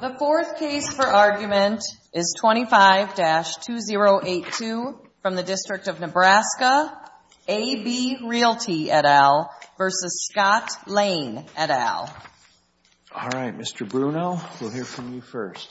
The fourth case for argument is 25-2082 from the District of Nebraska, A.B. Realty, et al. v. Scott Lane, et al. All right, Mr. Bruno, we'll hear from you first.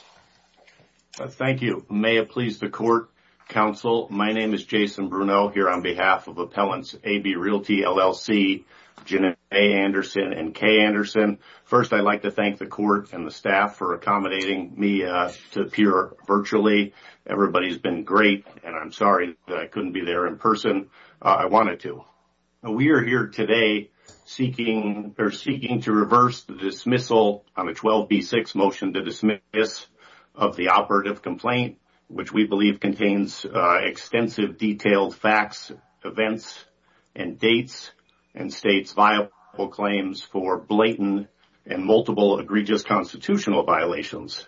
Thank you. May it please the Court, Counsel, my name is Jason Bruno here on behalf of Appellants, A.B. Realty, LLC, Janet A. Anderson, and Kay Anderson. First, I'd like to thank the Court and the staff for accommodating me to appear virtually. Everybody's been great, and I'm sorry that I couldn't be there in person. I wanted to. We are here today seeking to reverse the dismissal on the 12B6 motion to dismiss of the operative complaint, which we believe contains extensive detailed facts, events, and dates, and states viable claims for blatant and multiple egregious constitutional violations.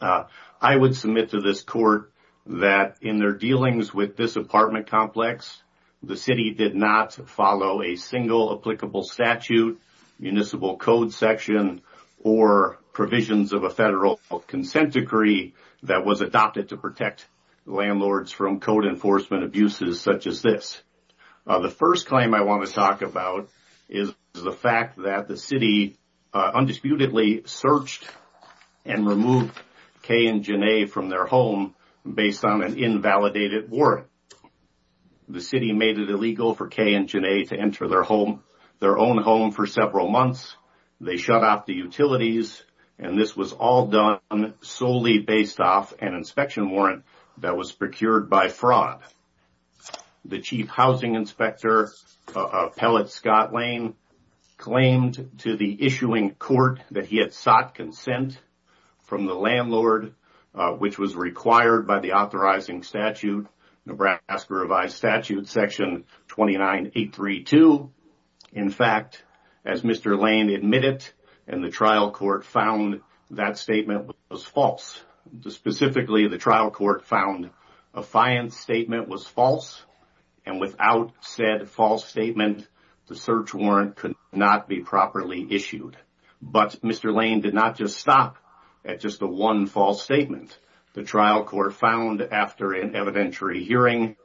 I would submit to this Court that in their dealings with this apartment complex, the City did not follow a single applicable statute, municipal code section, or provisions of a federal consent decree that was adopted to protect landlords from code enforcement abuses such as this. The first claim I want to talk about is the fact that the City undisputedly searched and removed Kay and Janae from their home based on an invalidated warrant. The City made it illegal for Kay and Janae to enter their home, their own home, for several months. They shut off the utilities, and this was all done solely based off an inspection warrant that was procured by fraud. The Chief Housing Inspector, Appellate Scott Lane, claimed to the issuing Court that he had sought consent from the landlord, which was required by the authorizing statute, Nebraska Revised Statute section 29832. In fact, as Mr. Lane admitted and the trial court found, that statement was false. Specifically, the trial court found a fiance statement was false, and without said false statement, the search warrant could not be properly issued. But Mr. Lane did not just stop at just the one false statement. The trial court found, after an evidentiary hearing,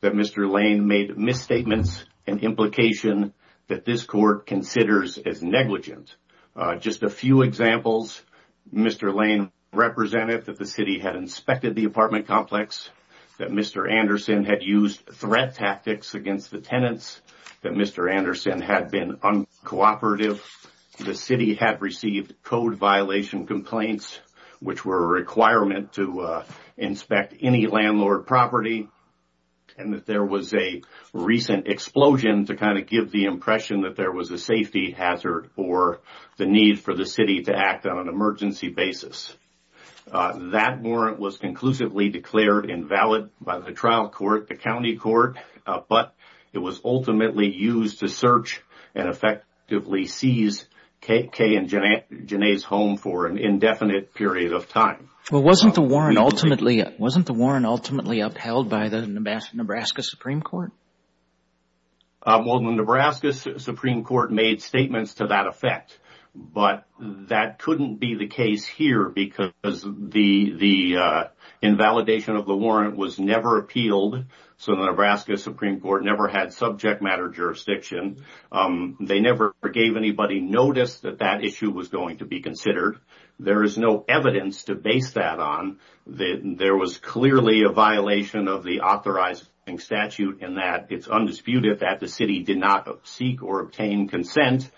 that Mr. Lane made misstatements, an implication that this Court considers as negligent. Just a few examples, Mr. Lane represented that the City had inspected the apartment complex, that Mr. Anderson had used threat tactics against the tenants, that Mr. Anderson had been uncooperative, that the City had received code violation complaints, which were a requirement to inspect any landlord property, and that there was a recent explosion to kind of give the impression that there was a safety hazard or the need for the City to act on an emergency basis. That warrant was conclusively declared invalid by the trial court, the county court, but it was ultimately used to search and effectively seize Kay and Janae's home for an indefinite period of time. Well, wasn't the warrant ultimately upheld by the Nebraska Supreme Court? Well, the Nebraska Supreme Court made statements to that effect, but that couldn't be the case here because the invalidation of the warrant was never appealed, so the Nebraska Supreme Court never had subject matter jurisdiction. They never gave anybody notice that that issue was going to be considered. There is no evidence to base that on. There was clearly a violation of the authorizing statute in that it's undisputed that the City did not seek or obtain consent,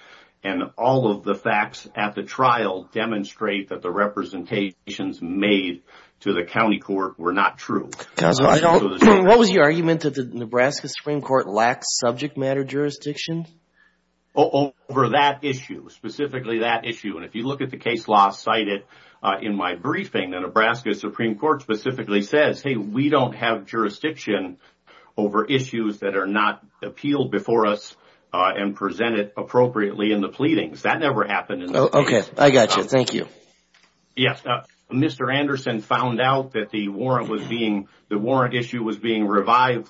and all of the facts at the trial demonstrate that the representations made to the county court were not true. What was your argument? Did the Nebraska Supreme Court lack subject matter jurisdiction? Over that issue, specifically that issue. And if you look at the case law cited in my briefing, the Nebraska Supreme Court specifically says, hey, we don't have jurisdiction over issues that are not appealed before us and presented appropriately in the pleadings. That never happened in this case. Okay, I got you. Thank you. Yes. Mr. Anderson found out that the warrant issue was being revived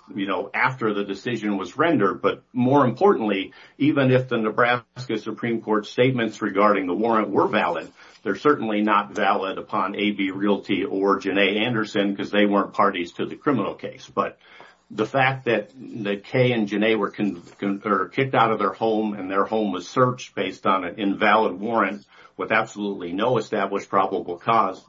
after the decision was rendered, but more importantly, even if the Nebraska Supreme Court's statements regarding the warrant were valid, they're certainly not valid upon A.B. Realty or Janae Anderson because they weren't parties to the criminal case. But the fact that Kay and Janae were kicked out of their home and their home was searched based on an invalid warrant with absolutely no established probable cause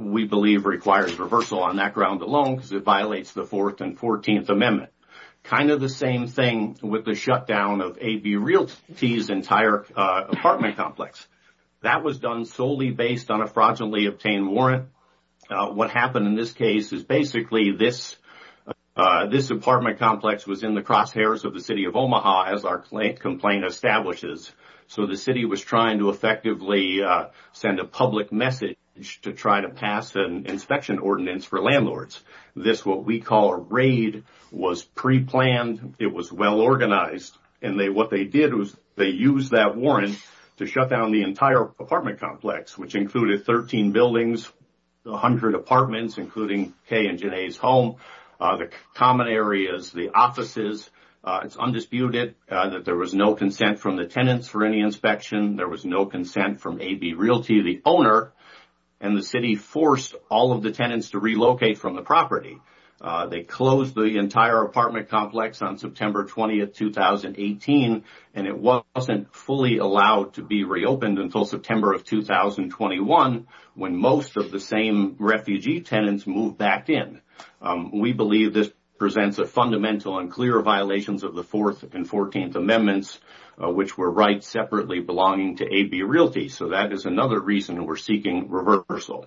we believe requires reversal on that ground alone because it violates the Fourth and Fourteenth Amendment. Kind of the same thing with the shutdown of A.B. Realty's entire apartment complex. That was done solely based on a fraudulently obtained warrant. What happened in this case is basically this apartment complex was in the crosshairs of the city of Omaha, as our complaint establishes. So the city was trying to effectively send a public message to try to pass an inspection ordinance for landlords. This, what we call a raid, was preplanned. It was well organized. And what they did was they used that warrant to shut down the entire apartment complex, which included 13 buildings, 100 apartments, including Kay and Janae's home, the common areas, the offices. It's undisputed that there was no consent from the tenants for any inspection. There was no consent from A.B. Realty, the owner, and the city forced all of the tenants to relocate from the property. They closed the entire apartment complex on September 20th, 2018, and it wasn't fully allowed to be reopened until September of 2021 when most of the same refugee tenants moved back in. We believe this presents a fundamental and clear violations of the Fourth and Fourteenth Amendments, which were rights separately belonging to A.B. Realty. So that is another reason we're seeking reversal.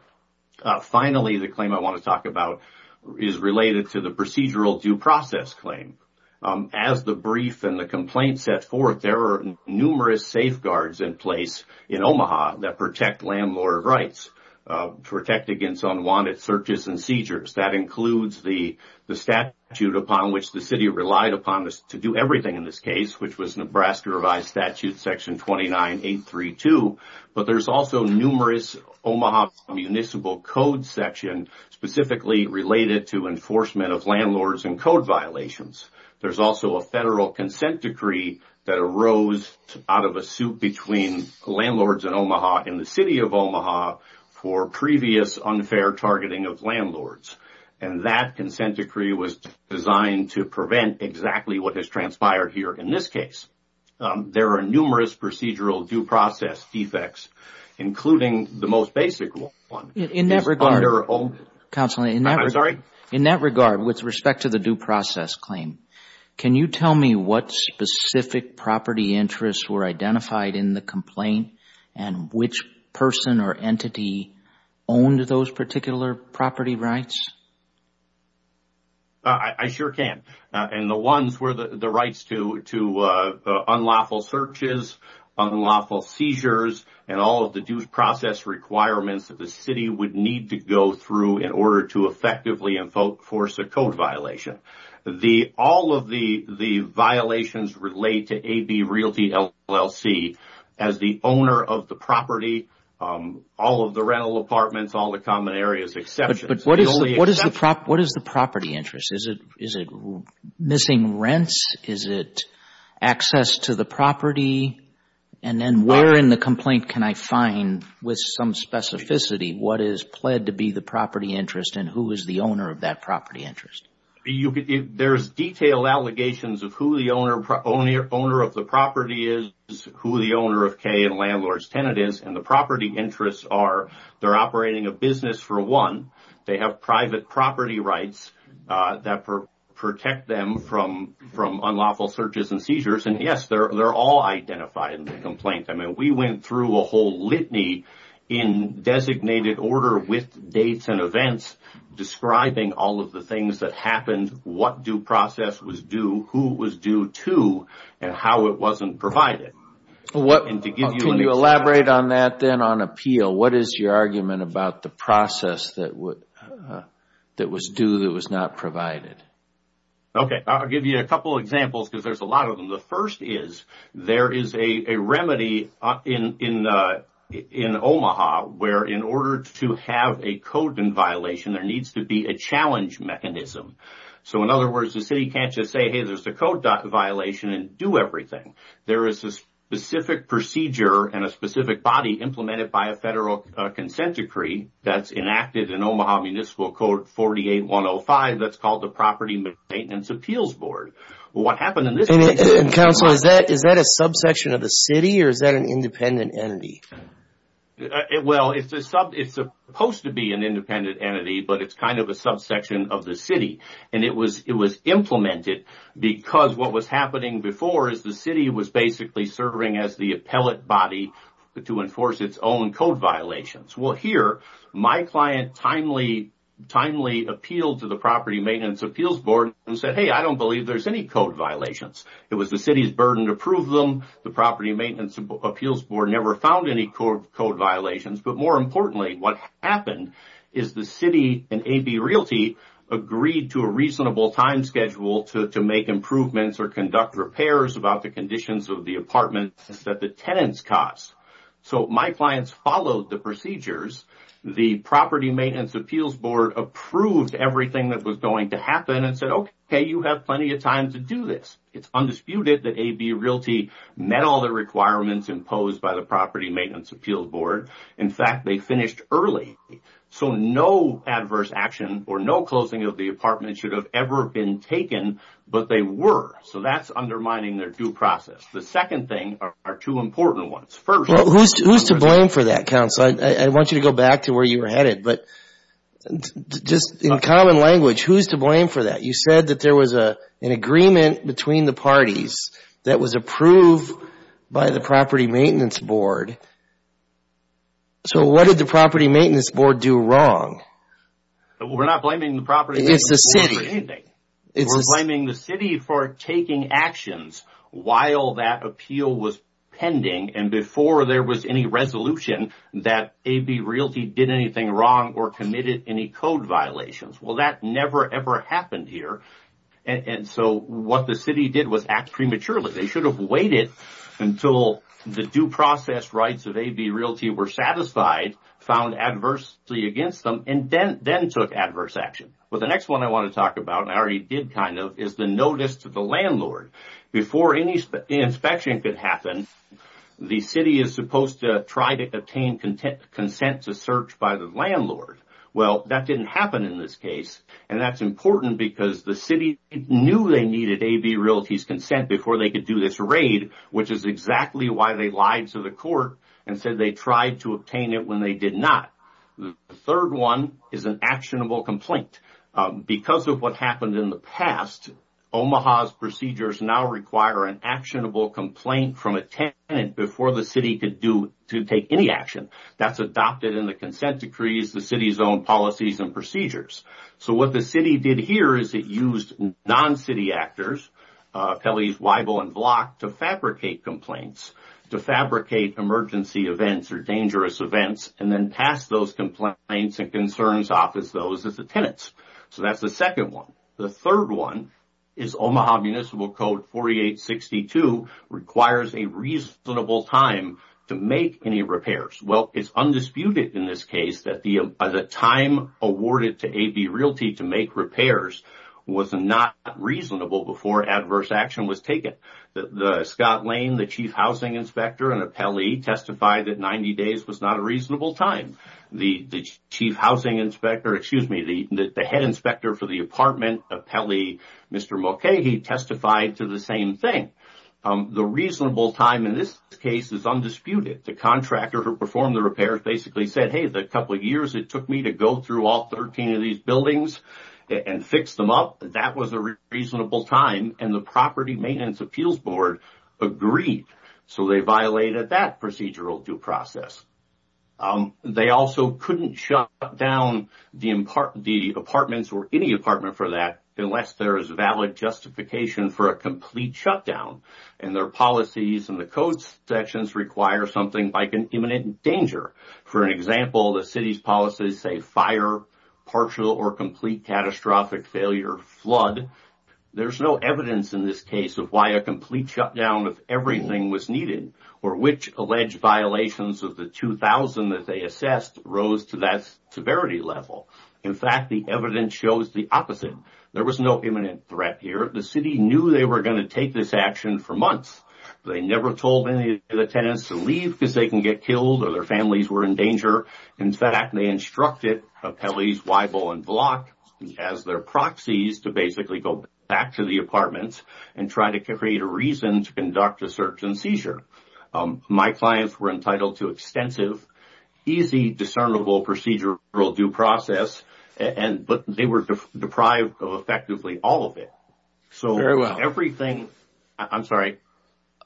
Finally, the claim I want to talk about is related to the procedural due process claim. As the brief and the complaint set forth, there are numerous safeguards in place in Omaha that protect landlord rights, protect against unwanted searches and seizures. That includes the statute upon which the city relied upon to do everything in this case, which was Nebraska Revised Statute Section 29832, but there's also numerous Omaha municipal code sections specifically related to enforcement of landlords and code violations. There's also a federal consent decree that arose out of a suit between landlords in Omaha and the city of Omaha for previous unfair targeting of landlords, and that consent decree was designed to prevent exactly what has transpired here in this case. There are numerous procedural due process defects, including the most basic one. In that regard, with respect to the due process claim, can you tell me what specific property interests were identified in the complaint and which person or entity owned those particular property rights? I sure can, and the ones were the rights to unlawful searches, unlawful seizures, and all of the due process requirements that the city would need to go through in order to effectively enforce a code violation. All of the violations relate to AB Realty LLC. As the owner of the property, all of the rental apartments, all the common areas, exceptions. But what is the property interest? Is it missing rents? Is it access to the property? And then where in the complaint can I find, with some specificity, what is pled to be the property interest and who is the owner of that property interest? There's detailed allegations of who the owner of the property is, who the owner of K and Landlord's Tenant is, and the property interests are they're operating a business for one. They have private property rights that protect them from unlawful searches and seizures. And yes, they're all identified in the complaint. I mean, we went through a whole litany in designated order with dates and events describing all of the things that happened, what due process was due, who was due to, and how it wasn't provided. Can you elaborate on that then on appeal? What is your argument about the process that was due that was not provided? Okay, I'll give you a couple examples because there's a lot of them. The first is there is a remedy in Omaha where in order to have a code violation, there needs to be a challenge mechanism. So in other words, the city can't just say, hey, there's a code violation and do everything. There is a specific procedure and a specific body implemented by a federal consent decree that's enacted in Omaha Municipal Code 48-105 that's called the Property Maintenance Appeals Board. What happened in this case is... And Counselor, is that a subsection of the city or is that an independent entity? Well, it's supposed to be an independent entity, but it's kind of a subsection of the city. And it was implemented because what was happening before is the city was basically serving as the appellate body to enforce its own code violations. Well, here, my client timely appealed to the Property Maintenance Appeals Board and said, hey, I don't believe there's any code violations. It was the city's burden to prove them. The Property Maintenance Appeals Board never found any code violations. But more importantly, what happened is the city and A.B. Realty agreed to a reasonable time schedule to make improvements or conduct repairs about the conditions of the apartments that the tenants caused. So my clients followed the procedures. The Property Maintenance Appeals Board approved everything that was going to happen and said, okay, you have plenty of time to do this. It's undisputed that A.B. Realty met all the requirements imposed by the Property Maintenance Appeals Board. In fact, they finished early. So no adverse action or no closing of the apartment should have ever been taken, but they were. So that's undermining their due process. The second thing are two important ones. Who's to blame for that, counsel? I want you to go back to where you were headed, but just in common language, who's to blame for that? You said that there was an agreement between the parties that was approved by the Property Maintenance Board. So what did the Property Maintenance Board do wrong? We're not blaming the Property Maintenance Board for anything. We're blaming the city for taking actions while that appeal was pending and before there was any resolution that A.B. Realty did anything wrong or committed any code violations. Well, that never, ever happened here, and so what the city did was act prematurely. They should have waited until the due process rights of A.B. Realty were satisfied, found adversity against them, and then took adverse action. Well, the next one I want to talk about, and I already did kind of, is the notice to the landlord. Before any inspection could happen, the city is supposed to try to obtain consent to search by the landlord. Well, that didn't happen in this case, and that's important because the city knew they needed A.B. Realty's consent before they could do this raid, which is exactly why they lied to the court and said they tried to obtain it when they did not. The third one is an actionable complaint. Because of what happened in the past, Omaha's procedures now require an actionable complaint from a tenant before the city could take any action. That's adopted in the consent decrees, the city's own policies and procedures. So what the city did here is it used non-city actors, Pele's Weibel and Block, to fabricate complaints, to fabricate emergency events or dangerous events, and then pass those complaints and concerns off as those of the tenants. So that's the second one. The third one is Omaha Municipal Code 4862 requires a reasonable time to make any repairs. Well, it's undisputed in this case that the time awarded to A.B. Realty to make repairs was not reasonable before adverse action was taken. Scott Lane, the chief housing inspector in Apelli, testified that 90 days was not a reasonable time. The chief housing inspector, excuse me, the head inspector for the apartment, Apelli, Mr. Mulcahy, testified to the same thing. The reasonable time in this case is undisputed. The contractor who performed the repairs basically said, hey, the couple of years it took me to go through all 13 of these buildings and fix them up, that was a reasonable time, and the Property Maintenance Appeals Board agreed. So they violated that procedural due process. They also couldn't shut down the apartments or any apartment for that unless there is valid justification for a complete shutdown, and their policies and the code sections require something like an imminent danger. For an example, the city's policies say fire, partial or complete catastrophic failure, flood. There's no evidence in this case of why a complete shutdown of everything was needed, or which alleged violations of the 2,000 that they assessed rose to that severity level. In fact, the evidence shows the opposite. There was no imminent threat here. The city knew they were going to take this action for months. They never told any of the tenants to leave because they can get killed or their families were in danger. In fact, they instructed Appellees Weibel and Block as their proxies to basically go back to the apartments and try to create a reason to conduct a search and seizure. My clients were entitled to extensive, easy, discernible procedural due process, but they were deprived of effectively all of it. I'm sorry.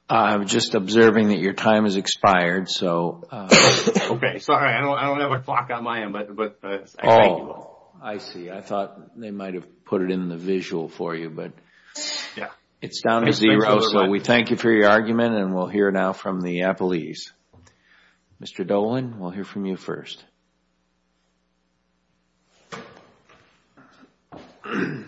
I'm just observing that your time has expired. Okay, sorry. I don't have a clock on my end. I see. I thought they might have put it in the visual for you, but it's down to zero. We thank you for your argument and we'll hear now from the Appellees. Mr. Dolan, we'll hear from you first. Good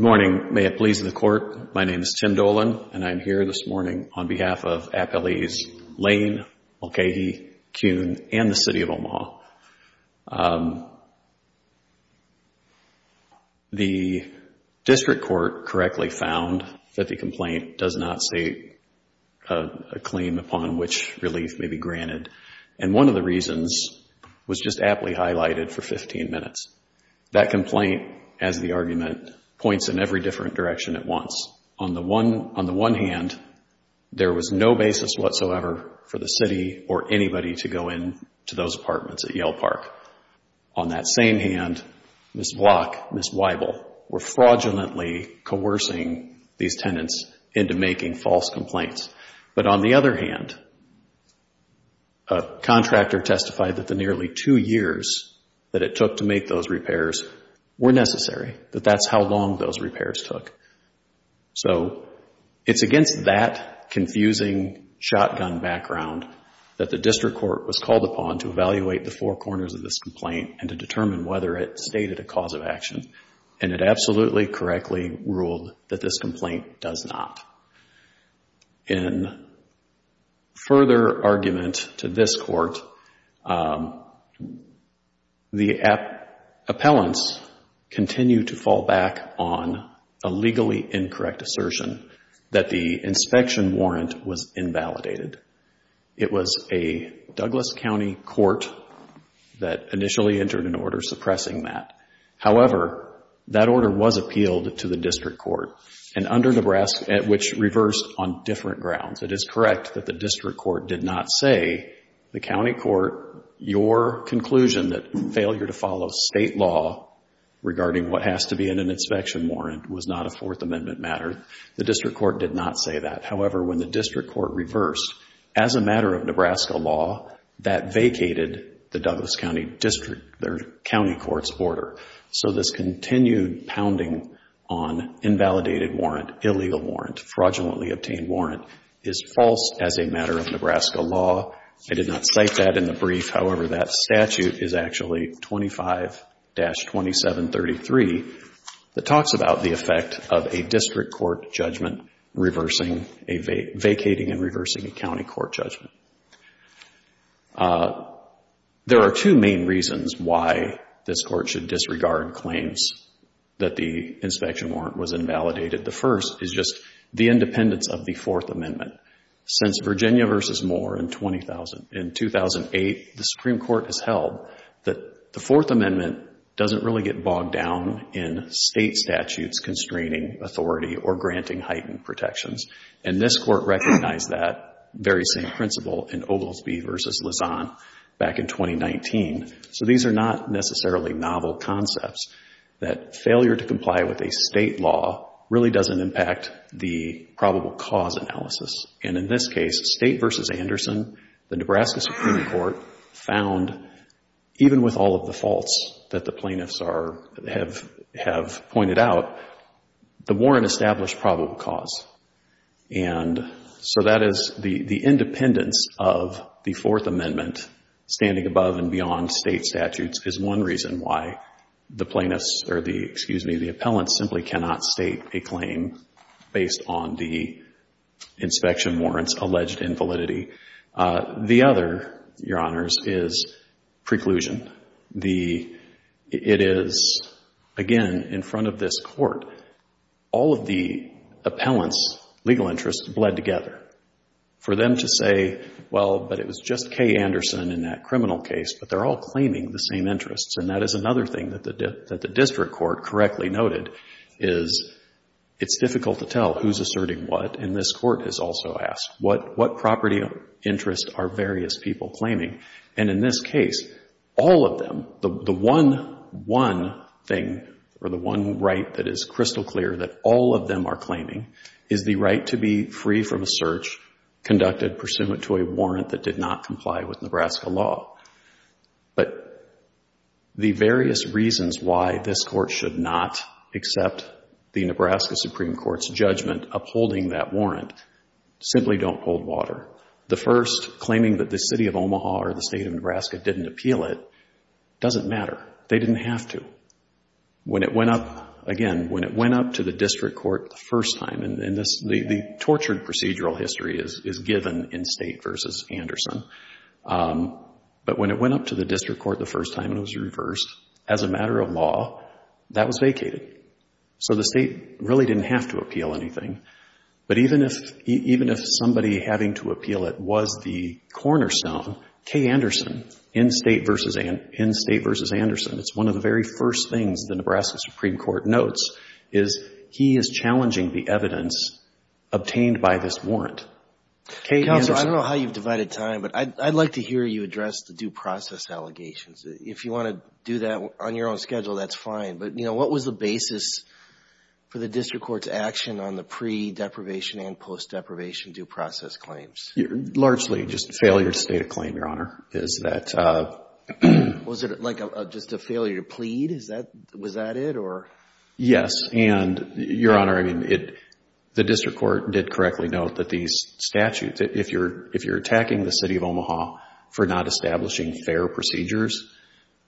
morning. May it please the Court, my name is Tim Dolan, and I'm here this morning on behalf of Appellees Lane, Mulcahy, Kuhn, and the City of Omaha. The District Court correctly found that the complaint does not state a claim upon which relief may be granted, and one of the reasons was just aptly highlighted for 15 minutes. That complaint, as the argument, points in every different direction at once. On the one hand, there was no basis whatsoever for the City or anybody to go into those apartments at Yale Park. On that same hand, Ms. Block, Ms. Weibel were fraudulently coercing these tenants into making false complaints. But on the other hand, a contractor testified that the nearly two years that it took to make those repairs were necessary, that that's how long those repairs took. So it's against that confusing shotgun background that the District Court was called upon to evaluate the four corners of this complaint and to determine whether it stated a cause of action, and it absolutely correctly ruled that this complaint does not. In further argument to this Court, the appellants continued to fall back on a legally incorrect assertion that the inspection warrant was invalidated. It was a Douglas County court that initially entered an order suppressing that. However, that order was appealed to the District Court, which reversed on different grounds. It is correct that the District Court did not say, the County Court, your conclusion that failure to follow state law regarding what has to be in an inspection warrant was not a Fourth Amendment matter. The District Court did not say that. However, when the District Court reversed, as a matter of Nebraska law, that vacated the Douglas County District, their County Court's order. So this continued pounding on invalidated warrant, illegal warrant, fraudulently obtained warrant is false as a matter of Nebraska law. I did not cite that in the brief. However, that statute is actually 25-2733 that talks about the effect of a District Court judgment reversing a vacating and reversing a County Court judgment. There are two main reasons why this Court should disregard claims that the inspection warrant was invalidated. The first is just the independence of the Fourth Amendment. Since Virginia v. Moore in 2008, the Supreme Court has held that the Fourth Amendment doesn't really get bogged down in state statutes constraining authority or granting heightened protections. And this Court recognized that very same principle in Oglesby v. Lausanne back in 2019. So these are not necessarily novel concepts. That failure to comply with a state law really doesn't impact the probable cause analysis. And in this case, State v. Anderson, the Nebraska Supreme Court, found even with all of the faults that the plaintiffs have pointed out, the warrant established probable cause. And so that is the independence of the Fourth Amendment standing above and beyond state statutes is one reason why the plaintiffs or the, excuse me, the appellants simply cannot state a claim based on the inspection warrants alleged invalidity. The other, Your Honors, is preclusion. It is, again, in front of this Court, all of the appellants' legal interests bled together. For them to say, well, but it was just Kay Anderson in that criminal case. But they're all claiming the same interests. And that is another thing that the district court correctly noted is it's difficult to tell who's asserting what. And this Court has also asked, what property interests are various people claiming? And in this case, all of them, the one thing or the one right that is crystal clear that all of them are claiming is the right to be free from a search conducted pursuant to a warrant that did not comply with Nebraska law. But the various reasons why this Court should not accept the Nebraska Supreme Court's judgment upholding that warrant simply don't hold water. The first, claiming that the city of Omaha or the state of Nebraska didn't appeal it, doesn't matter. They didn't have to. When it went up, again, when it went up to the district court the first time, and the tortured procedural history is given in State v. Anderson. But when it went up to the district court the first time, it was reversed. As a matter of law, that was vacated. So the state really didn't have to appeal anything. But even if somebody having to appeal it was the cornerstone, K. Anderson in State v. Anderson, it's one of the very first things the Nebraska Supreme Court notes, is he is challenging the evidence obtained by this warrant. K. Anderson. Counselor, I don't know how you've divided time, but I'd like to hear you address the due process allegations. If you want to do that on your own schedule, that's fine. But what was the basis for the district court's action on the pre-deprivation and post-deprivation due process claims? Largely just a failure to state a claim, Your Honor. Was it just a failure to plead? Was that it? Yes. And, Your Honor, the district court did correctly note that these statutes, if you're attacking the city of Omaha for not establishing fair procedures,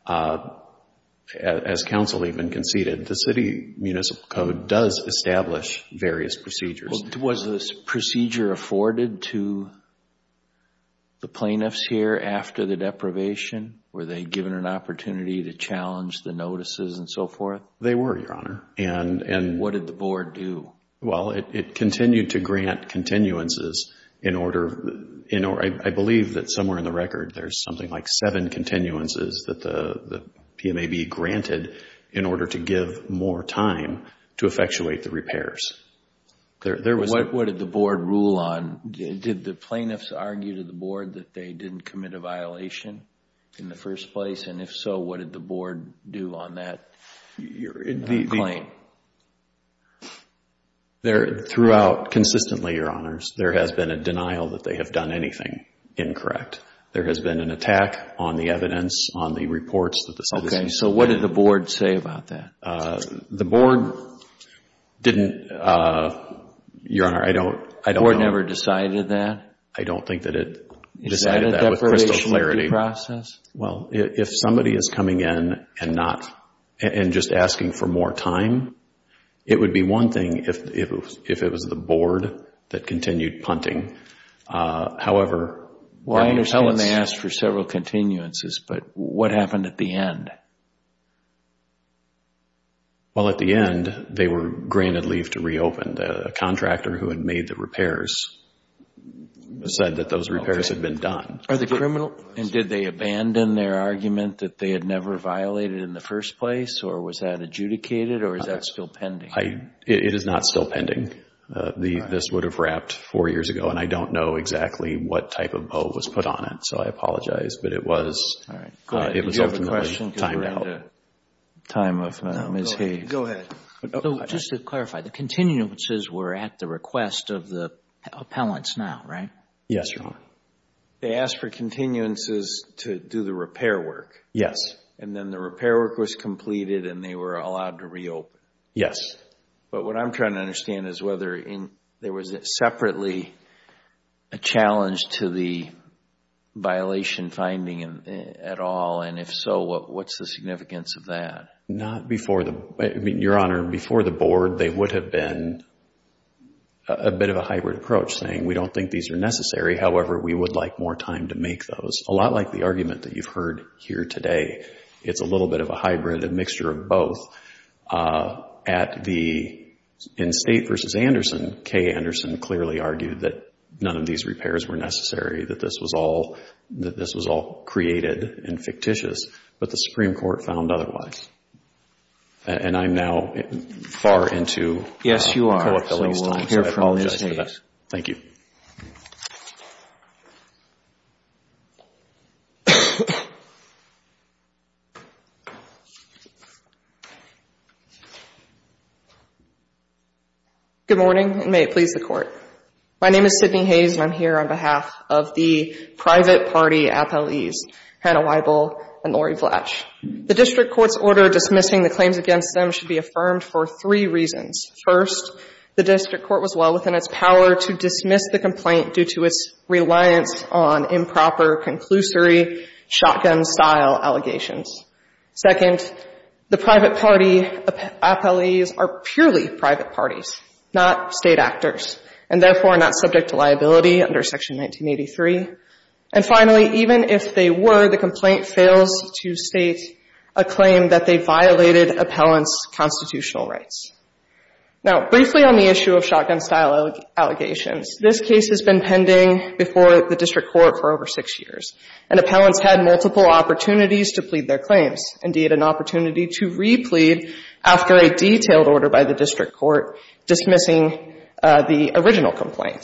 as counsel even conceded, the city municipal code does establish various procedures. Was this procedure afforded to the plaintiffs here after the deprivation? Were they given an opportunity to challenge the notices and so forth? They were, Your Honor. And what did the board do? Well, it continued to grant continuances. I believe that somewhere in the record there's something like seven continuances that the PMAB granted in order to give more time to effectuate the repairs. What did the board rule on? Did the plaintiffs argue to the board that they didn't commit a violation in the first place? And if so, what did the board do on that claim? Throughout, consistently, Your Honors, there has been a denial that they have done anything incorrect. There has been an attack on the evidence, on the reports. Okay. So what did the board say about that? The board didn't, Your Honor, I don't know. The board never decided that? I don't think that it decided that with crystal clarity. Well, if somebody is coming in and just asking for more time, it would be one thing if it was the board that continued punting. However, that means Well, I understand they asked for several continuances, but what happened at the end? Well, at the end, they were granted leave to reopen. The contractor who had made the repairs said that those repairs had been done. And did they abandon their argument that they had never violated in the first place, or was that adjudicated, or is that still pending? It is not still pending. This would have wrapped four years ago. And I don't know exactly what type of bow was put on it, so I apologize. But it was ultimately timed out. All right. Did you have a question? Time of Ms. Hayes. Go ahead. Just to clarify, the continuances were at the request of the appellants now, right? Yes, Your Honor. They asked for continuances to do the repair work. Yes. And then the repair work was completed and they were allowed to reopen. Yes. But what I'm trying to understand is whether there was separately a challenge to the violation finding at all, and if so, what's the significance of that? Not before the—I mean, Your Honor, before the board, they would have been a bit of a hybrid approach, saying we don't think these are necessary. However, we would like more time to make those. It's a lot like the argument that you've heard here today. It's a little bit of a hybrid, a mixture of both. At the—in State v. Anderson, Kay Anderson clearly argued that none of these repairs were necessary, that this was all created and fictitious, but the Supreme Court found otherwise. And I'm now far into co-appeal at this time, so I apologize for that. So we'll hear from Ms. Hayes. Thank you. Good morning, and may it please the Court. My name is Sydney Hayes, and I'm here on behalf of the private party appellees, Hannah Weibel and Lori Vlach. The district court's order dismissing the claims against them should be affirmed for three reasons. First, the district court was well within its power to dismiss the complaint due to its reliance on improper, conclusory, shotgun-style allegations. Second, the private party appellees are purely private parties, not State actors, and therefore not subject to liability under Section 1983. And finally, even if they were, the complaint fails to state a claim that they violated appellants' constitutional rights. Now, briefly on the issue of shotgun-style allegations, this case has been pending before the district court for over six years, and appellants had multiple opportunities to plead their claims, indeed an opportunity to re-plead after a detailed order by the district court dismissing the original complaint.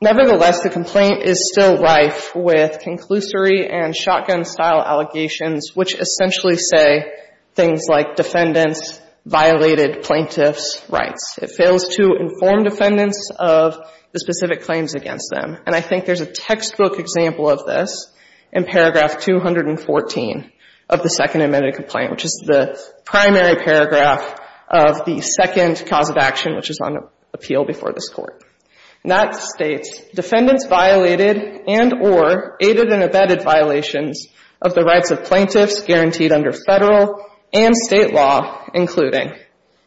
Nevertheless, the complaint is still rife with conclusory and shotgun-style allegations which essentially say things like defendants violated plaintiffs' rights. It fails to inform defendants of the specific claims against them. And I think there's a textbook example of this in paragraph 214 of the Second Amended Complaint, which is the primary paragraph of the second cause of action, which is on appeal before this Court. And that states, defendants violated and or aided and abetted violations of the rights of plaintiffs guaranteed under Federal and State law, including.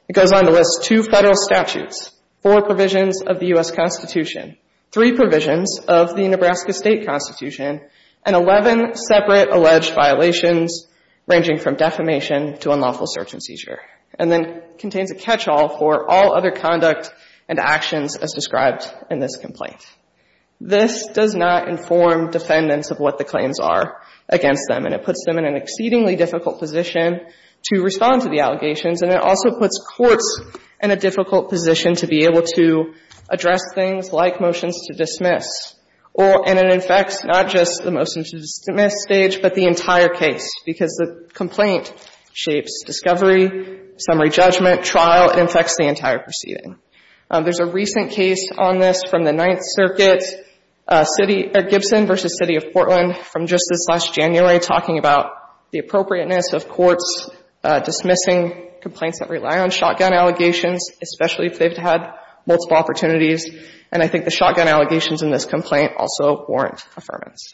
It goes on to list two Federal statutes, four provisions of the U.S. Constitution, three provisions of the Nebraska State Constitution, and 11 separate alleged violations ranging from defamation to unlawful search and seizure. And then contains a catch-all for all other conduct and actions as described in this complaint. This does not inform defendants of what the claims are against them, and it puts them in an exceedingly difficult position to respond to the allegations, and it also puts courts in a difficult position to be able to address things like motions to dismiss. And it infects not just the motions to dismiss stage, but the entire case, because the complaint shapes discovery, summary judgment, trial. It infects the entire proceeding. There's a recent case on this from the Ninth Circuit, Gibson v. City of Portland, from just this last January, talking about the appropriateness of courts dismissing complaints that rely on shotgun allegations, especially if they've had multiple opportunities. And I think the shotgun allegations in this complaint also warrant affirmance.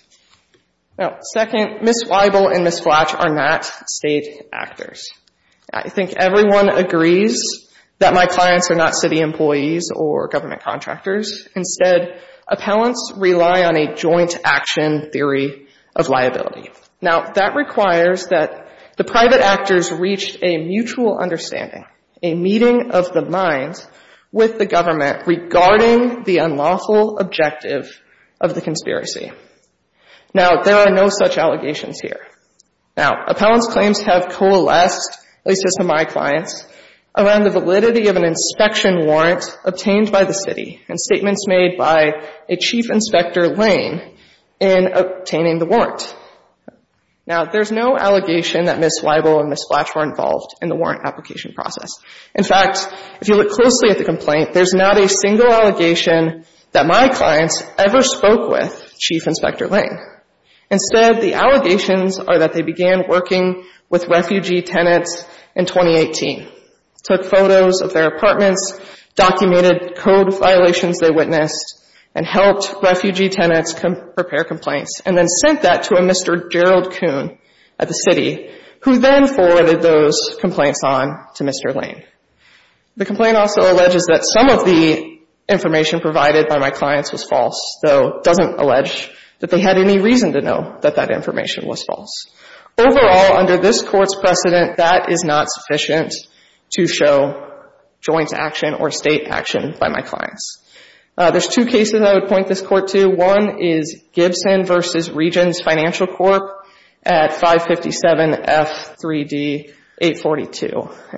Now, second, Ms. Weibel and Ms. Flach are not State actors. I think everyone agrees that my clients are not City employees or government contractors. Instead, appellants rely on a joint action theory of liability. Now, that requires that the private actors reach a mutual understanding, a meeting of the minds with the government regarding the unlawful objective of the conspiracy. Now, there are no such allegations here. Now, appellants' claims have coalesced, at least as have my clients, around the validity of an inspection warrant obtained by the City and statements made by a Chief Inspector Lane in obtaining the warrant. Now, there's no allegation that Ms. Weibel and Ms. Flach were involved in the warrant application process. In fact, if you look closely at the complaint, there's not a single allegation that my clients ever spoke with Chief Inspector Lane. Instead, the allegations are that they began working with refugee tenants in 2018, took photos of their apartments, documented code violations they witnessed, and helped refugee tenants prepare complaints, and then sent that to a Mr. Gerald Kuhn at the City, who then forwarded those complaints on to Mr. Lane. The complaint also alleges that some of the information provided by my clients was false, though it doesn't allege that they had any reason to know that that information was false. Overall, under this Court's precedent, that is not sufficient to show joint action or state action by my clients. There's two cases I would point this Court to. One is Gibson v. Regents Financial Corp. at 557 F3D 842,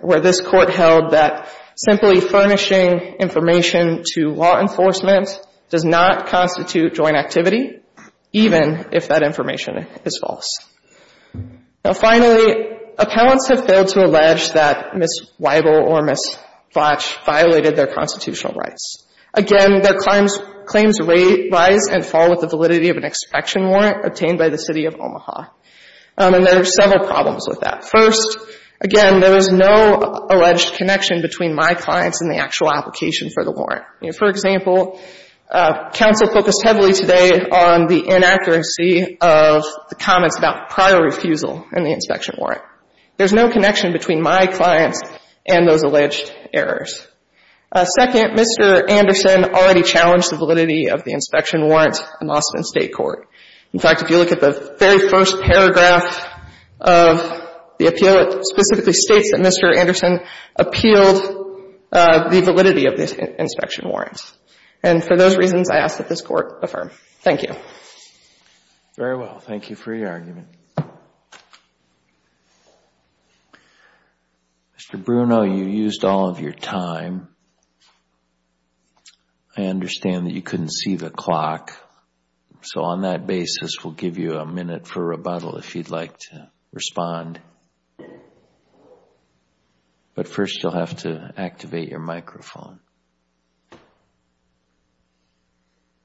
where this Court held that simply furnishing information to law enforcement does not constitute joint activity, even if that information is false. Now, finally, appellants have failed to allege that Ms. Weibel or Ms. Botch violated their constitutional rights. Again, their claims rise and fall with the validity of an inspection warrant obtained by the City of Omaha. And there are several problems with that. First, again, there is no alleged connection between my clients and the actual application for the warrant. For example, counsel focused heavily today on the inaccuracy of the comments about prior refusal in the inspection warrant. There's no connection between my clients and those alleged errors. Second, Mr. Anderson already challenged the validity of the inspection warrant in Austin State Court. In fact, if you look at the very first paragraph of the appeal, it specifically states that Mr. Anderson appealed the validity of the inspection warrant. And for those reasons, I ask that this Court affirm. Thank you. Very well. Thank you for your argument. Mr. Bruno, you used all of your time. I understand that you couldn't see the clock. So on that basis, we'll give you a minute for rebuttal if you'd like to respond. But first, you'll have to activate your microphone.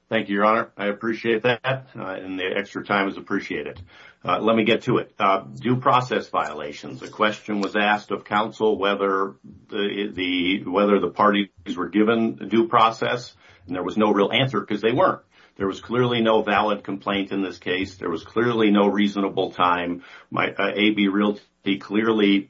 Thank you, Your Honor. I appreciate that. And the extra time is appreciated. Let me get to it. Due process violations. A question was asked of counsel whether the parties were given due process, and there was no real answer because they weren't. There was clearly no valid complaint in this case. There was clearly no reasonable time. My AB Realty clearly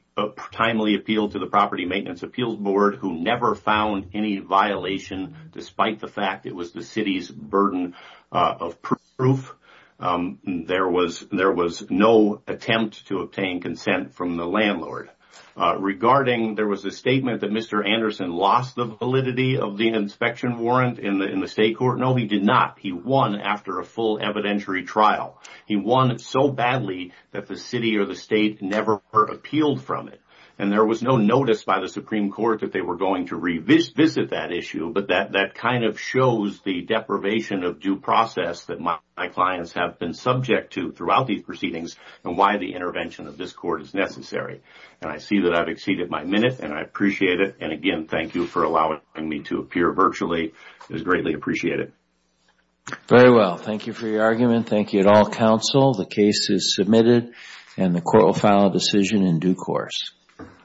timely appealed to the Property Maintenance Appeals Board, who never found any violation, despite the fact it was the city's burden of proof. There was no attempt to obtain consent from the landlord. Regarding, there was a statement that Mr. Anderson lost the validity of the inspection warrant in the State Court. No, he did not. He won after a full evidentiary trial. He won so badly that the city or the state never appealed from it. And there was no notice by the Supreme Court that they were going to revisit that issue, but that kind of shows the deprivation of due process that my clients have been subject to throughout these proceedings and why the intervention of this court is necessary. And I see that I've exceeded my minute, and I appreciate it. And again, thank you for allowing me to appear virtually. It is greatly appreciated. Very well. Thank you for your argument. Thank you at all, counsel. The case is submitted, and the court will file a decision in due course. Thank you.